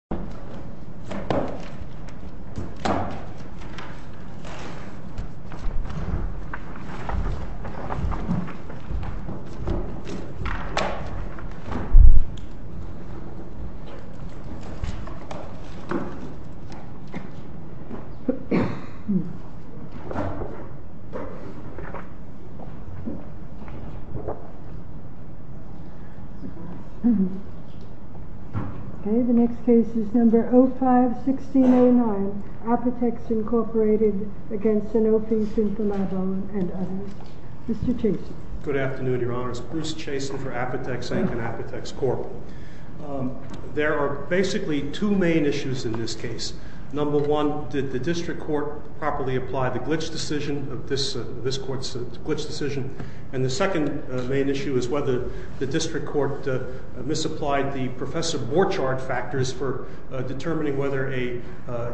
Calamine III is not only a visionary but also controversial, and his martyrdom left the Apotex Incorporated against Xenophe, Syntha-Mavone and others. Mr. Chastain. Good afternoon, Your Honor. It's Bruce Chastain for Apotex, Inc. and Apotex Corp. There are basically two main issues in this case. Number one, did the district court properly apply the glitch decision, this court's glitch decision? And the second main issue is whether the district court misapplied the Professor Borchardt factors for determining whether a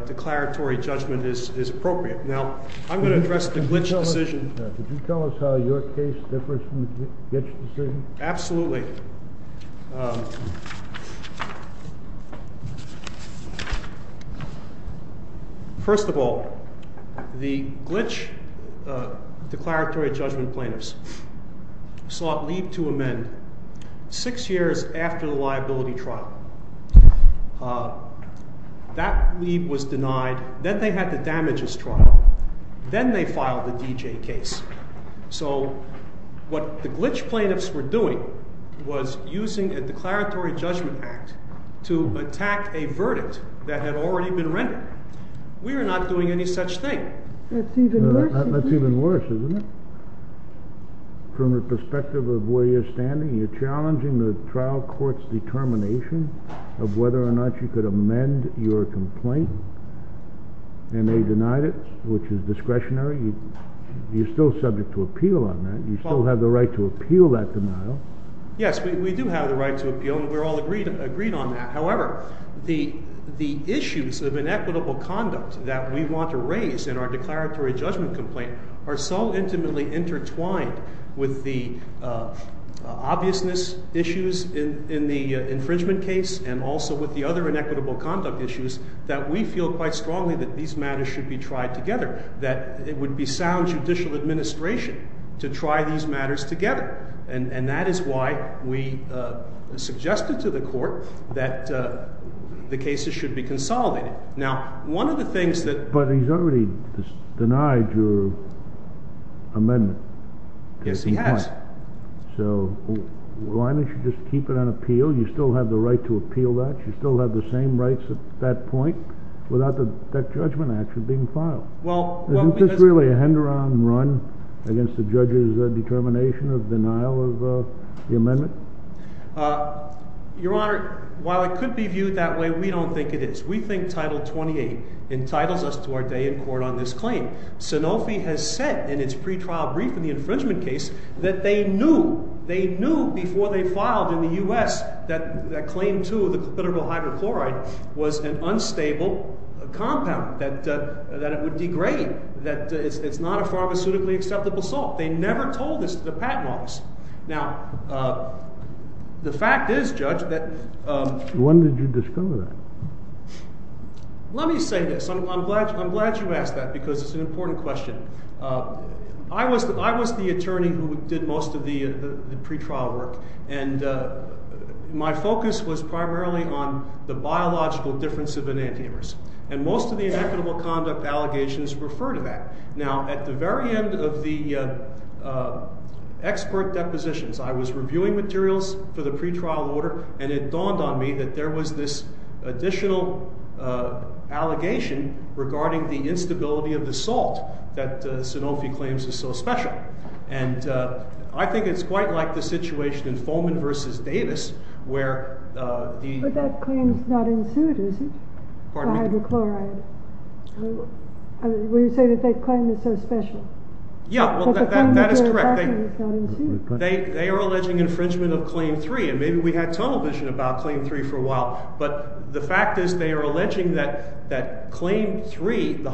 declaratory judgment is appropriate. Now, I'm going to address the glitch decision. Could you tell us how your case differs from the glitch decision? Absolutely. First of all, the glitch declaratory judgment plaintiffs sought leave to amend six years after the liability trial. That leave was denied, then they had the damages trial, then they filed the D.J. case. So what the glitch plaintiffs were doing was using a declaratory judgment act to attack a verdict that had already been rendered. We are not doing any such thing. That's even worse. That's even worse, isn't it? From the perspective of where you're standing, you're challenging the trial court's determination of whether or not you could amend your complaint, and they denied it, which is discretionary. You're still subject to appeal on that. You still have the right to appeal that denial. Yes, we do have the right to appeal, and we're all agreed on that. However, the issues of inequitable conduct that we want to raise in our declaratory judgment complaint are so intimately intertwined with the obviousness issues in the infringement case and also with the other inequitable conduct issues that we feel quite strongly that these matters should be tried together, that it would be sound judicial administration to try these matters together. And that is why we suggested to the court that the cases should be consolidated. Now, one of the things that... But he's already denied your amendment. Yes, he has. So why don't you just keep it on appeal? You still have the right to appeal that. You still have the same rights at that point without that judgment action being filed. Isn't this really a hand-around run against the judge's determination of denial of the amendment? Your Honor, while it could be viewed that way, we don't think it is. We think Title 28 entitles us to our day in court on this claim. Sanofi has said in its pre-trial brief in the infringement case that they knew, they knew before they filed in the U.S. that Claim 2, the clitoral hydrochloride, was an unstable compound, that it would degrade, that it's not a pharmaceutically acceptable salt. They never told us that the patent was. Now, the fact is, Judge, that... When did you discover that? Let me say this. I'm glad you asked that because it's an important question. I was the attorney who did most of the pre-trial work, and my focus was primarily on the biological difference of enantiomers. And most of the inequitable conduct allegations refer to that. Now, at the very end of the expert depositions, I was reviewing materials for the pre-trial order, and it dawned on me that there was this additional allegation regarding the instability of the salt that Sanofi claims is so special. And I think it's quite like the situation in Foman v. Davis where the... But that claim's not ensued, is it? Pardon me? The hydrochloride. I mean, when you say that that claim is so special. Yeah, well, that is correct. But the claim is not ensued. They are alleging infringement of Claim 3, and maybe we had tunnel vision about Claim 3 for a while. But the fact is they are alleging that Claim 3, the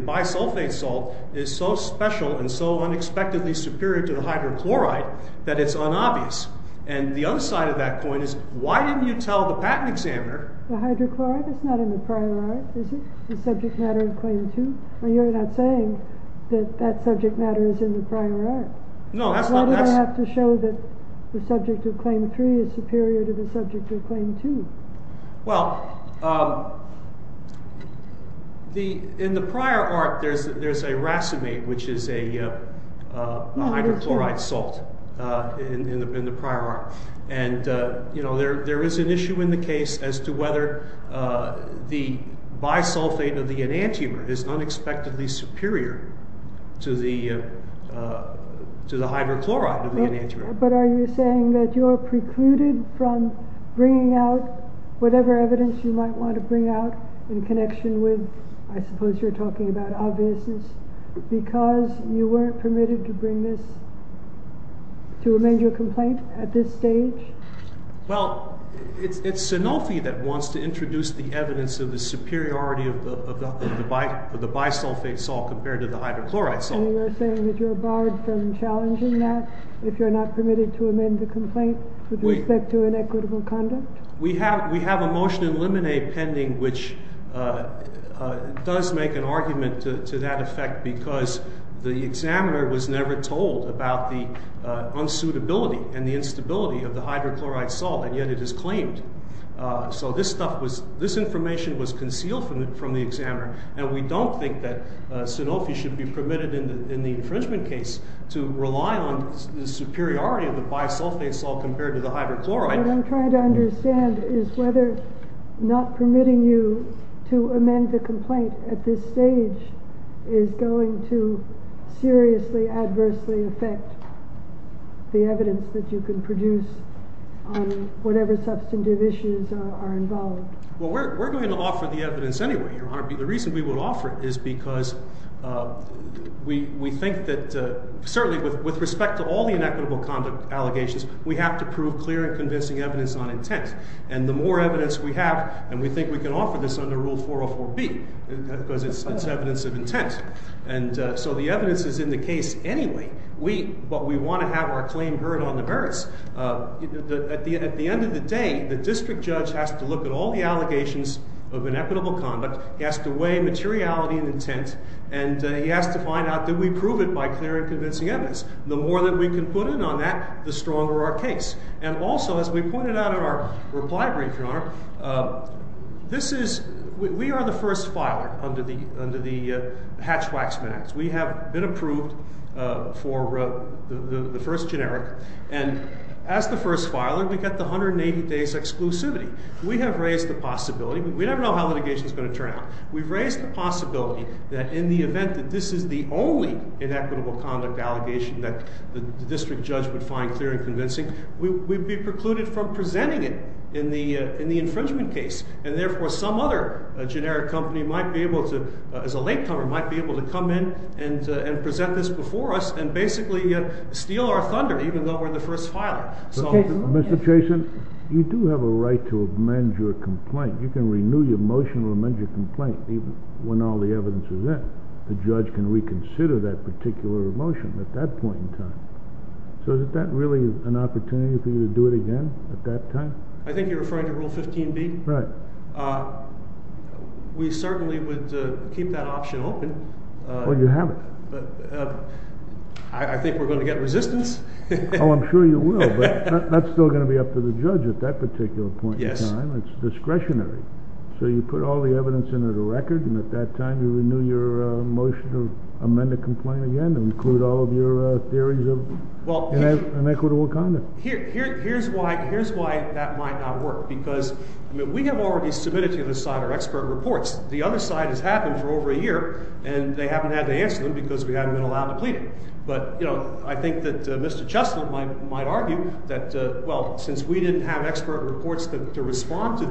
bisulfate salt, is so special and so unexpectedly superior to the hydrochloride that it's unobvious. And the other side of that point is, why didn't you tell the patent examiner... The hydrochloride is not in the prior art, is it? The subject matter of Claim 2? Well, you're not saying that that subject matter is in the prior art. No, that's not... Why do I have to show that the subject of Claim 3 is superior to the subject of Claim 2? Well, in the prior art, there's a racemate, which is a hydrochloride salt in the prior art. And, you know, there is an issue in the case as to whether the bisulfate of the enantiomer is unexpectedly superior to the hydrochloride of the enantiomer. But are you saying that you are precluded from bringing out whatever evidence you might want to bring out in connection with, I suppose you're talking about obviousness, because you weren't permitted to bring this, to amend your complaint at this stage? Well, it's Sanofi that wants to introduce the evidence of the superiority of the bisulfate salt compared to the hydrochloride salt. And you're saying that you're barred from challenging that if you're not permitted to amend the complaint with respect to inequitable conduct? We have a motion in limine pending which does make an argument to that effect because the examiner was never told about the unsuitability and the instability of the hydrochloride salt, and yet it is claimed. So this information was concealed from the examiner, and we don't think that Sanofi should be permitted in the infringement case to rely on the superiority of the bisulfate salt compared to the hydrochloride. What I'm trying to understand is whether not permitting you to amend the complaint at this stage is going to seriously, adversely affect the evidence that you can produce on whatever substantive issues are involved. Well, we're going to offer the evidence anyway, Your Honor. The reason we would offer it is because we think that, certainly with respect to all the inequitable conduct allegations, we have to prove clear and convincing evidence on intent. And the more evidence we have, and we think we can offer this under Rule 404B, because it's evidence of intent. And so the evidence is in the case anyway, but we want to have our claim heard on the merits. At the end of the day, the district judge has to look at all the allegations of inequitable conduct, he has to weigh materiality and intent, and he has to find out that we prove it by clear and convincing evidence. The more that we can put in on that, the stronger our case. And also, as we pointed out in our reply brief, Your Honor, this is, we are the first filer under the Hatch-Waxman Act. We have been approved for the first generic, and as the first filer, we get the 180 days exclusivity. We have raised the possibility, we never know how litigation is going to turn out, we've raised the possibility that in the event that this is the only inequitable conduct allegation that the district judge would find clear and convincing, we'd be precluded from presenting it in the infringement case. And therefore, some other generic company might be able to, as a latecomer, might be able to come in and present this before us and basically steal our thunder even though we're the first filer. Mr. Jason, you do have a right to amend your complaint. You can renew your motion to amend your complaint even when all the evidence is in. The judge can reconsider that particular motion at that point in time. So is that really an opportunity for you to do it again at that time? I think you're referring to Rule 15b? Right. We certainly would keep that option open. Well, you have it. I think we're going to get resistance. Oh, I'm sure you will, but that's still going to be up to the judge at that particular point in time. It's discretionary. So you put all the evidence into the record, and at that time you renew your motion to amend the complaint again and include all of your theories of inequitable conduct. Here's why that might not work, because we have already submitted to this side our expert reports. The other side has had them for over a year, and they haven't had to answer them because we haven't been allowed to plead them. But I think that Mr. Cheslin might argue that, well, since we didn't have expert reports to respond to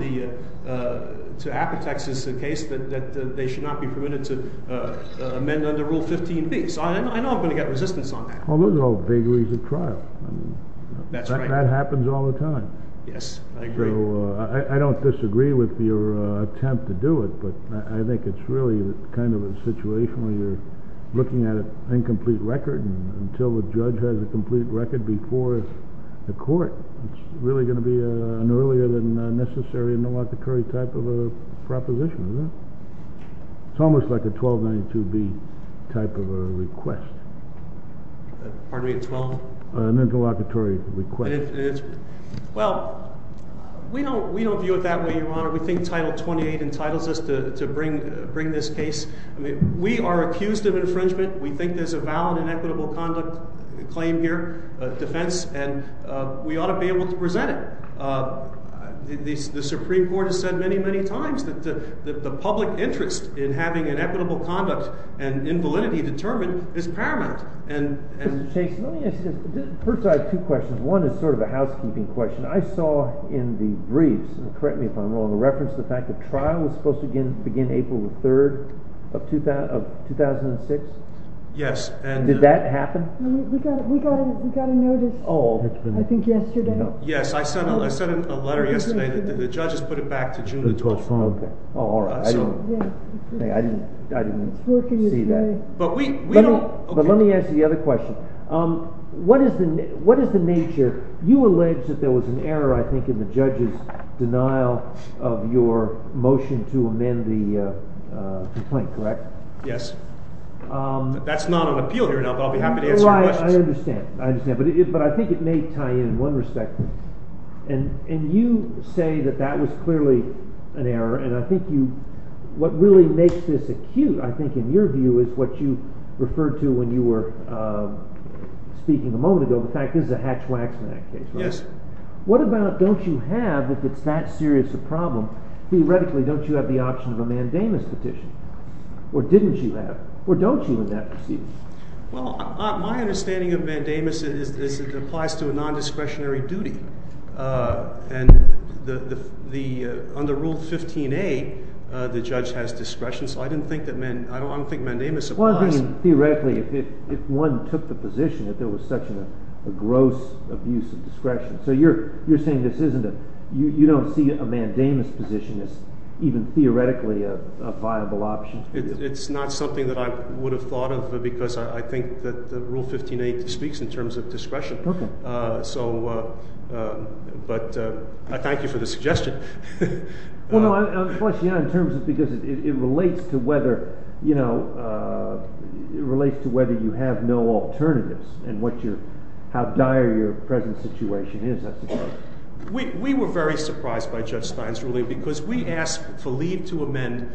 Apotex's case, that they should not be permitted to amend under Rule 15b. So I know I'm going to get resistance on that. Well, those are all vagaries of trial. That's right. That happens all the time. Yes, I agree. So I don't disagree with your attempt to do it, but I think it's really kind of a situation where you're looking at an incomplete record, and until the judge has a complete record before the court, it's really going to be an earlier-than-necessary Malacca-Curry type of a proposition, isn't it? It's almost like a 1292b type of a request. Pardon me? A 12? An interlocutory request. Well, we don't view it that way, Your Honor. We think Title 28 entitles us to bring this case. We are accused of infringement. We think there's a valid and equitable conduct claim here, defense, and we ought to be able to present it. The Supreme Court has said many, many times that the public interest in having an equitable conduct and invalidity determined is paramount. Mr. Chase, let me ask you this. First, I have two questions. One is sort of a housekeeping question. I saw in the briefs, and correct me if I'm wrong, a reference to the fact that trial was supposed to begin April the 3rd of 2006? Yes. Did that happen? We got a notice, I think, yesterday. Yes, I sent a letter yesterday. The judges put it back to June the 12th. Oh, all right. I didn't see that. But let me ask you the other question. What is the nature? You allege that there was an error, I think, in the judge's denial of your motion to amend the complaint, correct? Yes. That's not on appeal here, but I'll be happy to answer your questions. I understand. But I think it may tie in in one respect. And you say that that was clearly an error, and I think what really makes this acute, I think, in your view, is what you referred to when you were speaking a moment ago. In fact, this is a hatchwack in that case, right? Yes. What about don't you have, if it's that serious a problem, theoretically don't you have the option of a mandamus petition? Or didn't you have? Or don't you in that proceeding? Well, my understanding of mandamus is it applies to a nondiscretionary duty. And under Rule 15A, the judge has discretion, so I don't think mandamus applies. Theoretically, if one took the position that there was such a gross abuse of discretion. So you're saying you don't see a mandamus petition as even theoretically a viable option? It's not something that I would have thought of, because I think that Rule 15A speaks in terms of discretion. Okay. So, but I thank you for the suggestion. Well, no, the question in terms of because it relates to whether, you know, it relates to whether you have no alternatives, and how dire your present situation is, I suppose. We were very surprised by Judge Stein's ruling, because we asked for leave to amend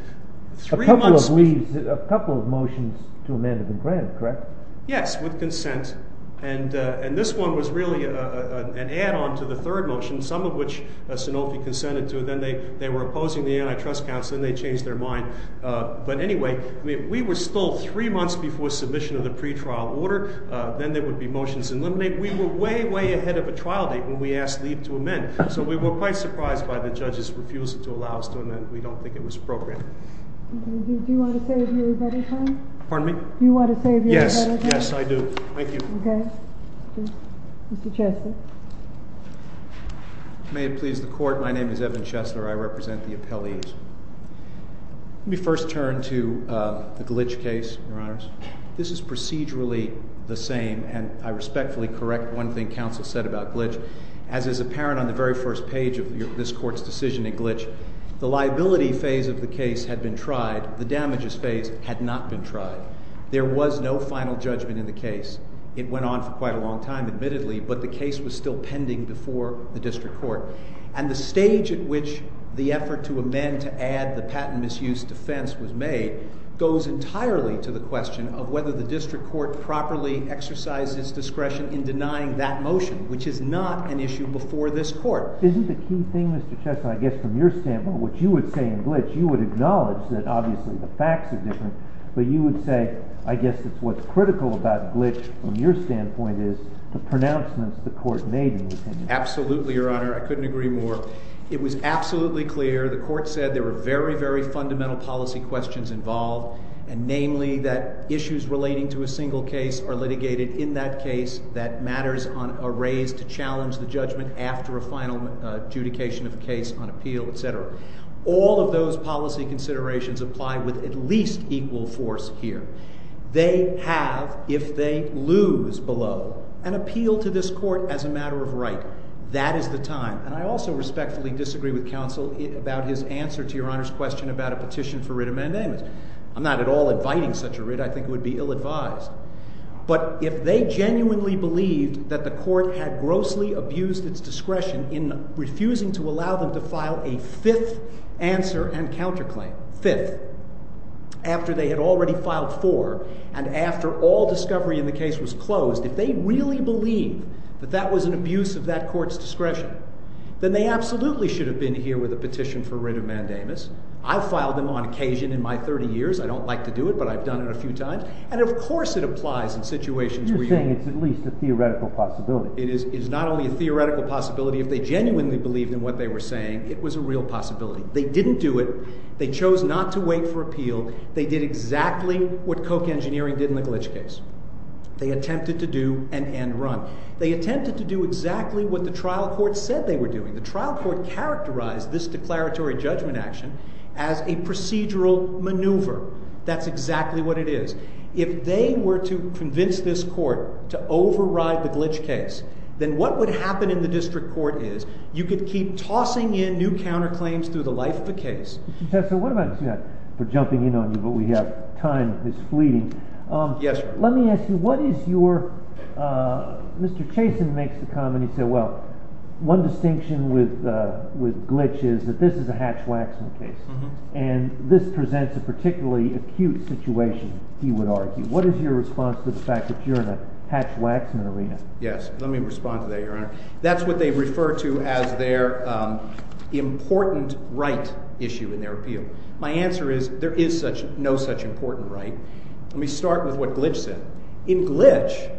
three months. A couple of leaves, a couple of motions to amend have been granted, correct? Yes, with consent. And this one was really an add-on to the third motion, some of which Sanofi consented to. Then they were opposing the Antitrust Council, and they changed their mind. But anyway, we were still three months before submission of the pretrial order. Then there would be motions to eliminate. We were way, way ahead of a trial date when we asked leave to amend. So we were quite surprised by the judge's refusal to allow us to amend. We don't think it was appropriate. Do you want to save your better time? Pardon me? Do you want to save your better time? Yes, yes, I do. Thank you. Okay. Mr. Chesler. May it please the Court, my name is Evan Chesler. I represent the appellees. Let me first turn to the Glitch case, Your Honors. This is procedurally the same, and I respectfully correct one thing Counsel said about Glitch. As is apparent on the very first page of this Court's decision in Glitch, the liability phase of the case had been tried. The damages phase had not been tried. There was no final judgment in the case. It went on for quite a long time, admittedly, but the case was still pending before the district court. And the stage at which the effort to amend to add the patent misuse defense was made goes entirely to the question of whether the district court properly exercised its discretion in denying that motion, which is not an issue before this Court. Isn't the key thing, Mr. Chesler, I guess from your standpoint, what you would say in Glitch, you would acknowledge that obviously the facts are different, but you would say I guess it's what's critical about Glitch from your standpoint is the pronouncements the Court made in the opinion. Absolutely, Your Honor. I couldn't agree more. It was absolutely clear. The Court said there were very, very fundamental policy questions involved, and namely that issues relating to a single case are litigated in that case that matters are raised to challenge the judgment after a final adjudication of a case on appeal, etc. All of those policy considerations apply with at least equal force here. They have, if they lose below, an appeal to this Court as a matter of right. That is the time. And I also respectfully disagree with counsel about his answer to Your Honor's question about a petition for writ of mandamus. I'm not at all inviting such a writ. I think it would be ill-advised. But if they genuinely believed that the Court had grossly abused its discretion in refusing to allow them to file a fifth answer and counterclaim, fifth, after they had already filed four and after all discovery in the case was closed, if they really believed that that was an abuse of that Court's discretion, then they absolutely should have been here with a petition for writ of mandamus. I've filed them on occasion in my 30 years. I don't like to do it, but I've done it a few times. And of course it applies in situations where you're saying it's at least a theoretical possibility. It is not only a theoretical possibility. If they genuinely believed in what they were saying, it was a real possibility. They didn't do it. They chose not to wait for appeal. They did exactly what Koch Engineering did in the glitch case. They attempted to do an end run. They attempted to do exactly what the trial court said they were doing. The trial court characterized this declaratory judgment action as a procedural maneuver. That's exactly what it is. If they were to convince this Court to override the glitch case, then what would happen in the district court is you could keep tossing in new counterclaims through the life of the case. Professor, what about this? We're jumping in on you, but we have time that's fleeting. Yes, sir. Let me ask you, what is your—Mr. Chasen makes the comment, he said, well, one distinction with glitch is that this is a Hatch-Waxman case, and this presents a particularly acute situation, he would argue. What is your response to the fact that you're in a Hatch-Waxman arena? Yes, let me respond to that, Your Honor. That's what they refer to as their important right issue in their appeal. My answer is there is no such important right. Let me start with what glitch said. In glitch,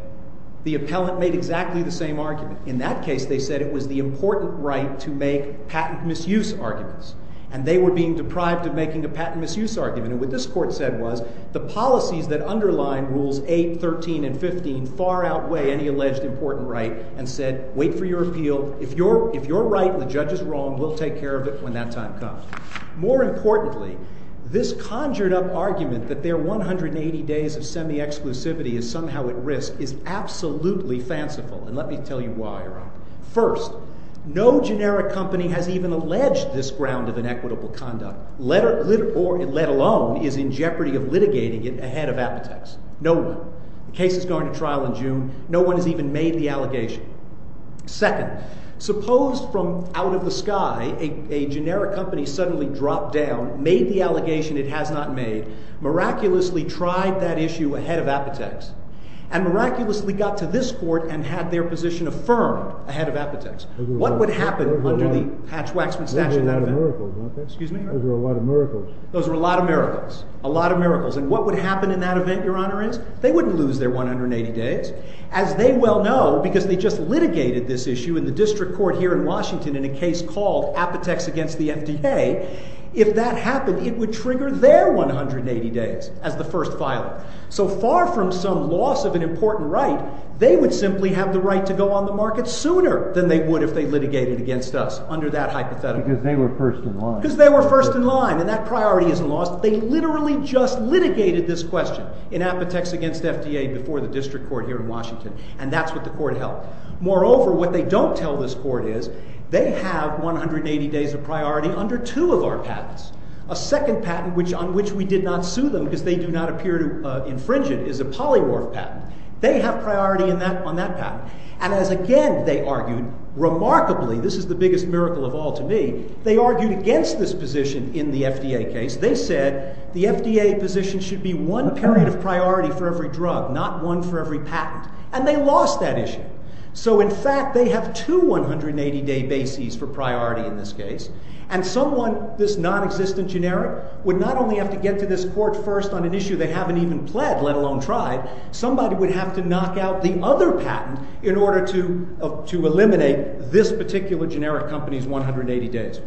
the appellant made exactly the same argument. In that case, they said it was the important right to make patent misuse arguments, and they were being deprived of making a patent misuse argument. And what this Court said was the policies that underline Rules 8, 13, and 15 far outweigh any alleged important right and said, wait for your appeal. If you're right and the judge is wrong, we'll take care of it when that time comes. More importantly, this conjured-up argument that their 180 days of semi-exclusivity is somehow at risk is absolutely fanciful, and let me tell you why, Your Honor. First, no generic company has even alleged this ground of inequitable conduct, let alone is in jeopardy of litigating it ahead of Apotex. No one. The case is going to trial in June. No one has even made the allegation. Second, suppose from out of the sky a generic company suddenly dropped down, made the allegation it has not made, miraculously tried that issue ahead of Apotex, and miraculously got to this Court and had their position affirmed ahead of Apotex. What would happen under the hatch-waxman-stache in that event? Those are a lot of miracles. Those are a lot of miracles. A lot of miracles. And what would happen in that event, Your Honor, is they wouldn't lose their 180 days, as they well know because they just litigated this issue in the district court here in Washington in a case called Apotex against the FDA. If that happened, it would trigger their 180 days as the first filer. So far from some loss of an important right, they would simply have the right to go on the market sooner than they would if they litigated against us under that hypothetical. Because they were first in line. Because they were first in line, and that priority isn't lost. They literally just litigated this question in Apotex against FDA before the district court here in Washington, and that's what the court held. Moreover, what they don't tell this court is, they have 180 days of priority under two of our patents. A second patent on which we did not sue them, because they do not appear to infringe it, is a polymorph patent. They have priority on that patent. And as again, they argued, remarkably, this is the biggest miracle of all to me, they argued against this position in the FDA case. They said the FDA position should be one period of priority for every drug, not one for every patent. And they lost that issue. So in fact, they have two 180-day bases for priority in this case. And someone, this nonexistent generic, would not only have to get to this court first on an issue they haven't even pled, let alone tried, somebody would have to knock out the other patent in order to eliminate this particular generic company's 180 days.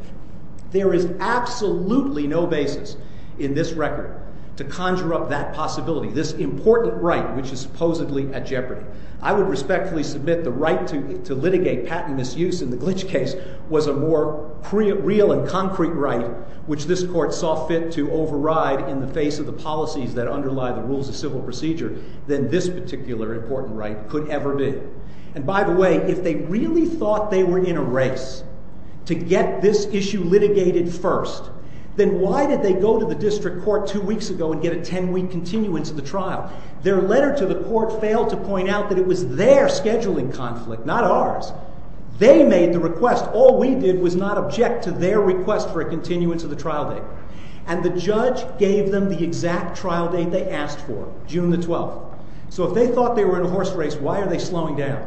There is absolutely no basis in this record to conjure up that possibility, this important right which is supposedly at jeopardy. I would respectfully submit the right to litigate patent misuse in the Glitch case was a more real and concrete right which this court saw fit to override in the face of the policies that underlie the rules of civil procedure than this particular important right could ever be. And by the way, if they really thought they were in a race to get this issue litigated first, then why did they go to the district court two weeks ago and get a ten-week continuance of the trial? Their letter to the court failed to point out that it was their scheduling conflict, not ours. They made the request. All we did was not object to their request for a continuance of the trial date. And the judge gave them the exact trial date they asked for, June the 12th. So if they thought they were in a horse race, why are they slowing down?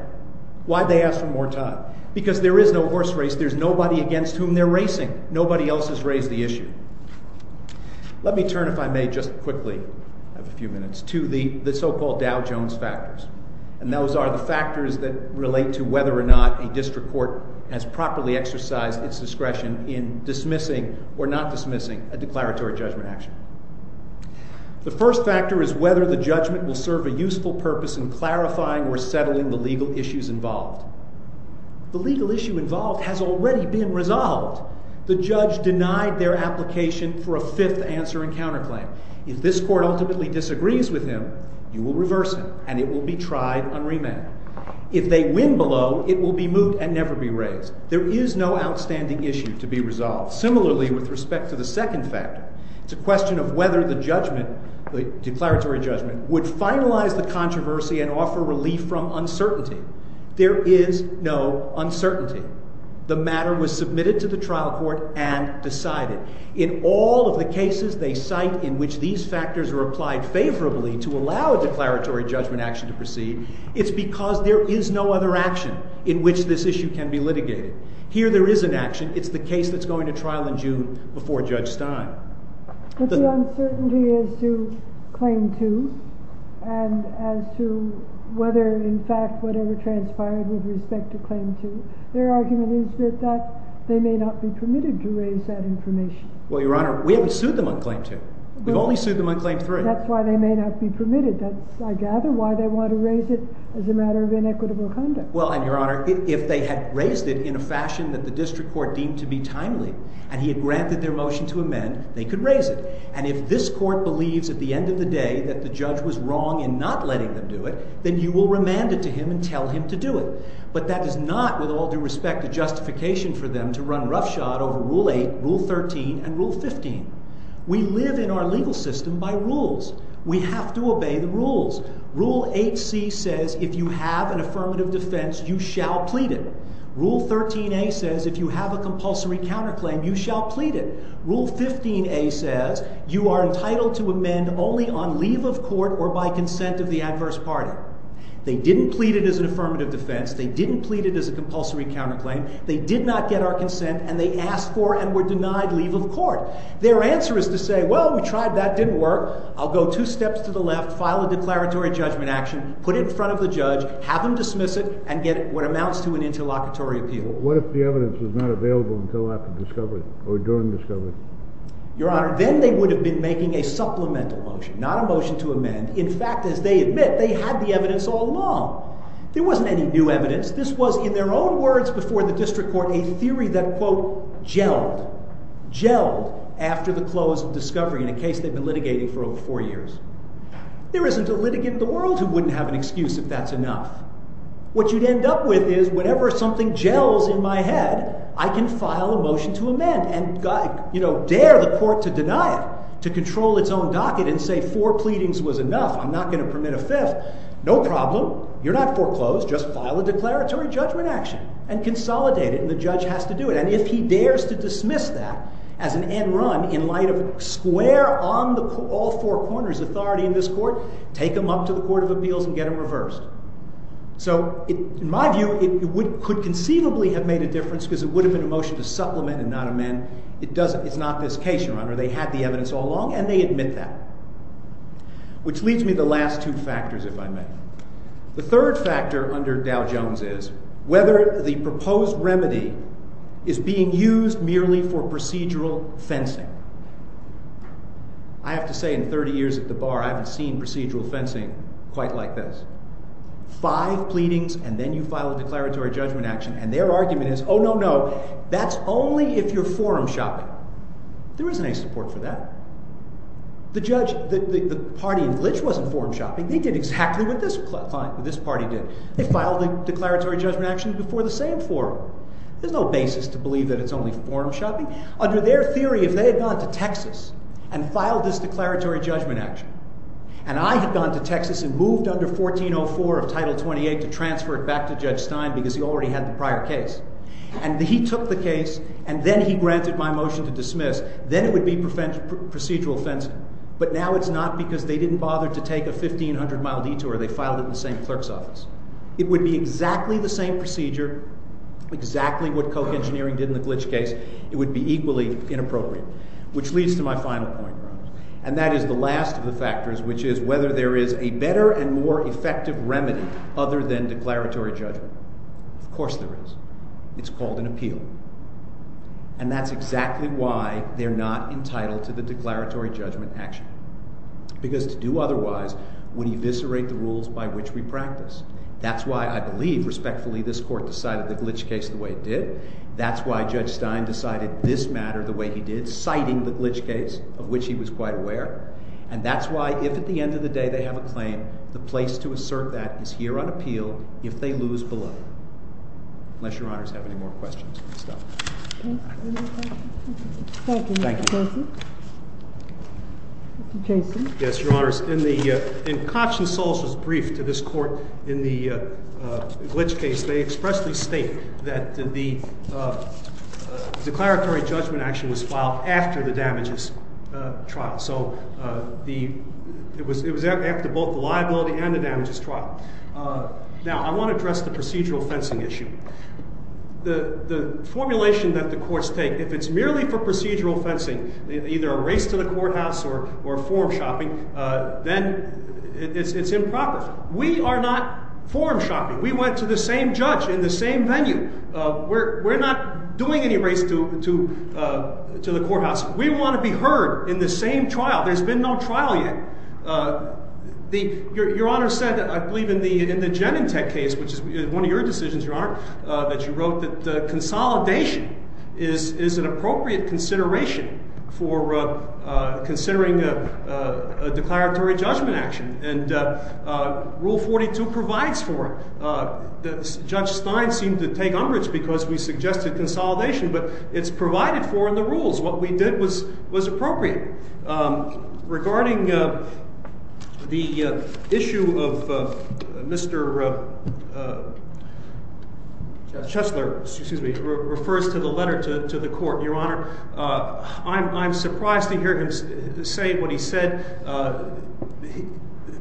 Why did they ask for more time? Because there is no horse race. There's nobody against whom they're racing. Nobody else has raised the issue. Let me turn, if I may, just quickly, I have a few minutes, to the so-called Dow Jones factors. And those are the factors that relate to whether or not a district court has properly exercised its discretion in dismissing or not dismissing a declaratory judgment action. The first factor is whether the judgment will serve a useful purpose in clarifying or settling the legal issues involved. The legal issue involved has already been resolved. The judge denied their application for a fifth answer and counterclaim. If this court ultimately disagrees with him, you will reverse him, and it will be tried on remand. If they win below, it will be moot and never be raised. There is no outstanding issue to be resolved. Similarly, with respect to the second factor, it's a question of whether the judgment, the declaratory judgment, would finalize the controversy and offer relief from uncertainty. There is no uncertainty. The matter was submitted to the trial court and decided. In all of the cases they cite in which these factors are applied favorably to allow a declaratory judgment action to proceed, it's because there is no other action in which this issue can be litigated. Here there is an action. It's the case that's going to trial in June before Judge Stein. But the uncertainty is to claim two, and as to whether in fact whatever transpired with respect to claim two, their argument is that they may not be permitted to raise that information. Well, Your Honor, we haven't sued them on claim two. We've only sued them on claim three. That's why they may not be permitted. That's, I gather, why they want to raise it as a matter of inequitable conduct. Well, and Your Honor, if they had raised it in a fashion that the district court deemed to be timely, and he had granted their motion to amend, they could raise it. And if this court believes at the end of the day that the judge was wrong in not letting them do it, then you will remand it to him and tell him to do it. But that is not, with all due respect, a justification for them to run roughshod over Rule 8, Rule 13, and Rule 15. We live in our legal system by rules. We have to obey the rules. Rule 8C says if you have an affirmative defense, you shall plead it. Rule 13A says if you have a compulsory counterclaim, you shall plead it. Rule 15A says you are entitled to amend only on leave of court or by consent of the adverse party. They didn't plead it as an affirmative defense. They didn't plead it as a compulsory counterclaim. They did not get our consent, and they asked for and were denied leave of court. Their answer is to say, well, we tried that. It didn't work. I'll go two steps to the left, file a declaratory judgment action, put it in front of the judge, have him dismiss it, and get what amounts to an interlocutory appeal. What if the evidence was not available until after discovery or during discovery? Your Honor, then they would have been making a supplemental motion, not a motion to amend. In fact, as they admit, they had the evidence all along. There wasn't any new evidence. This was, in their own words before the district court, a theory that, quote, gelled, gelled after the close of discovery in a case they've been litigating for over four years. There isn't a litigant in the world who wouldn't have an excuse if that's enough. What you'd end up with is whenever something gels in my head, I can file a motion to amend and dare the court to deny it, to control its own docket and say four pleadings was enough. I'm not going to permit a fifth. No problem. You're not foreclosed. Just file a declaratory judgment action and consolidate it, and the judge has to do it. And if he dares to dismiss that as an end run in light of square on all four corners authority in this court, take him up to the court of appeals and get him reversed. So, in my view, it could conceivably have made a difference because it would have been a motion to supplement and not amend. It's not this case, Your Honor. They had the evidence all along, and they admit that. Which leads me to the last two factors, if I may. The third factor under Dow Jones is whether the proposed remedy is being used merely for procedural fencing. I have to say, in 30 years at the bar, I haven't seen procedural fencing quite like this. Five pleadings, and then you file a declaratory judgment action, and their argument is, oh, no, no, that's only if you're forum shopping. There isn't any support for that. The party in Glitch wasn't forum shopping. They did exactly what this party did. They filed a declaratory judgment action before the same forum. There's no basis to believe that it's only forum shopping. Under their theory, if they had gone to Texas and filed this declaratory judgment action, and I had gone to Texas and moved under 1404 of Title 28 to transfer it back to Judge Stein because he already had the prior case, and he took the case, and then he granted my motion to dismiss, then it would be procedural fencing. But now it's not because they didn't bother to take a 1,500-mile detour. They filed it in the same clerk's office. It would be exactly the same procedure, exactly what Koch Engineering did in the Glitch case. It would be equally inappropriate, which leads to my final point. And that is the last of the factors, which is whether there is a better and more effective remedy other than declaratory judgment. Of course there is. It's called an appeal. And that's exactly why they're not entitled to the declaratory judgment action because to do otherwise would eviscerate the rules by which we practice. That's why I believe, respectfully, this court decided the Glitch case the way it did. That's why Judge Stein decided this matter the way he did, citing the Glitch case, of which he was quite aware. And that's why if at the end of the day they have a claim, the place to assert that is here on appeal if they lose below, unless Your Honors have any more questions. Thank you. Thank you. Jason. Yes, Your Honors. In Koch and Solz's brief to this court in the Glitch case, they expressly state that the declaratory judgment action was filed after the damages trial. So it was after both the liability and the damages trial. Now I want to address the procedural fencing issue. The formulation that the courts take, if it's merely for procedural fencing, either a race to the courthouse or form shopping, then it's improper. We are not form shopping. We went to the same judge in the same venue. We're not doing any race to the courthouse. We want to be heard in the same trial. There's been no trial yet. Your Honor said, I believe, in the Genentech case, which is one of your decisions, Your Honor, that you wrote that consolidation is an appropriate consideration for considering a declaratory judgment action. And Rule 42 provides for it. Judge Stein seemed to take umbrage because we suggested consolidation. But it's provided for in the rules. What we did was appropriate. Regarding the issue of Mr. Chesler, excuse me, refers to the letter to the court, Your Honor, I'm surprised to hear him say what he said.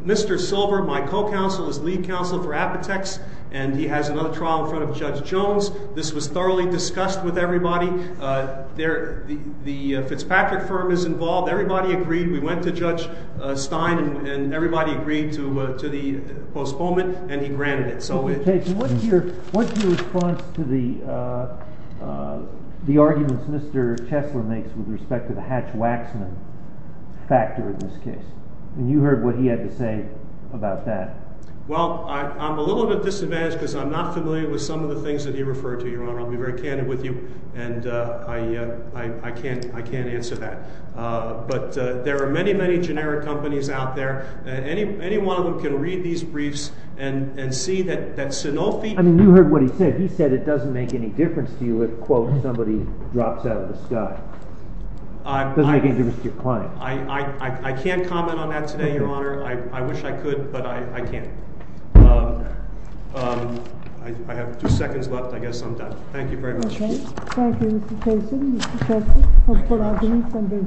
Mr. Silver, my co-counsel, is lead counsel for Apotex. And he has another trial in front of Judge Jones. This was thoroughly discussed with everybody. The Fitzpatrick firm is involved. Everybody agreed. We went to Judge Stein. And everybody agreed to the postponement. And he granted it. What's your response to the arguments Mr. Chesler makes with respect to the Hatch-Waxman factor in this case? And you heard what he had to say about that. Well, I'm a little bit disadvantaged because I'm not familiar with some of the things that he referred to, Your Honor. I'll be very candid with you. And I can't answer that. But there are many, many generic companies out there. Any one of them can read these briefs and see that Sanofi— I mean, you heard what he said. He said it doesn't make any difference to you if, quote, somebody drops out of the sky. It doesn't make any difference to your client. I can't comment on that today, Your Honor. I wish I could, but I can't. I have two seconds left. I guess I'm done. Thank you very much. Thank you, Mr. Chesler. Mr. Chesler, I'll put our briefs under.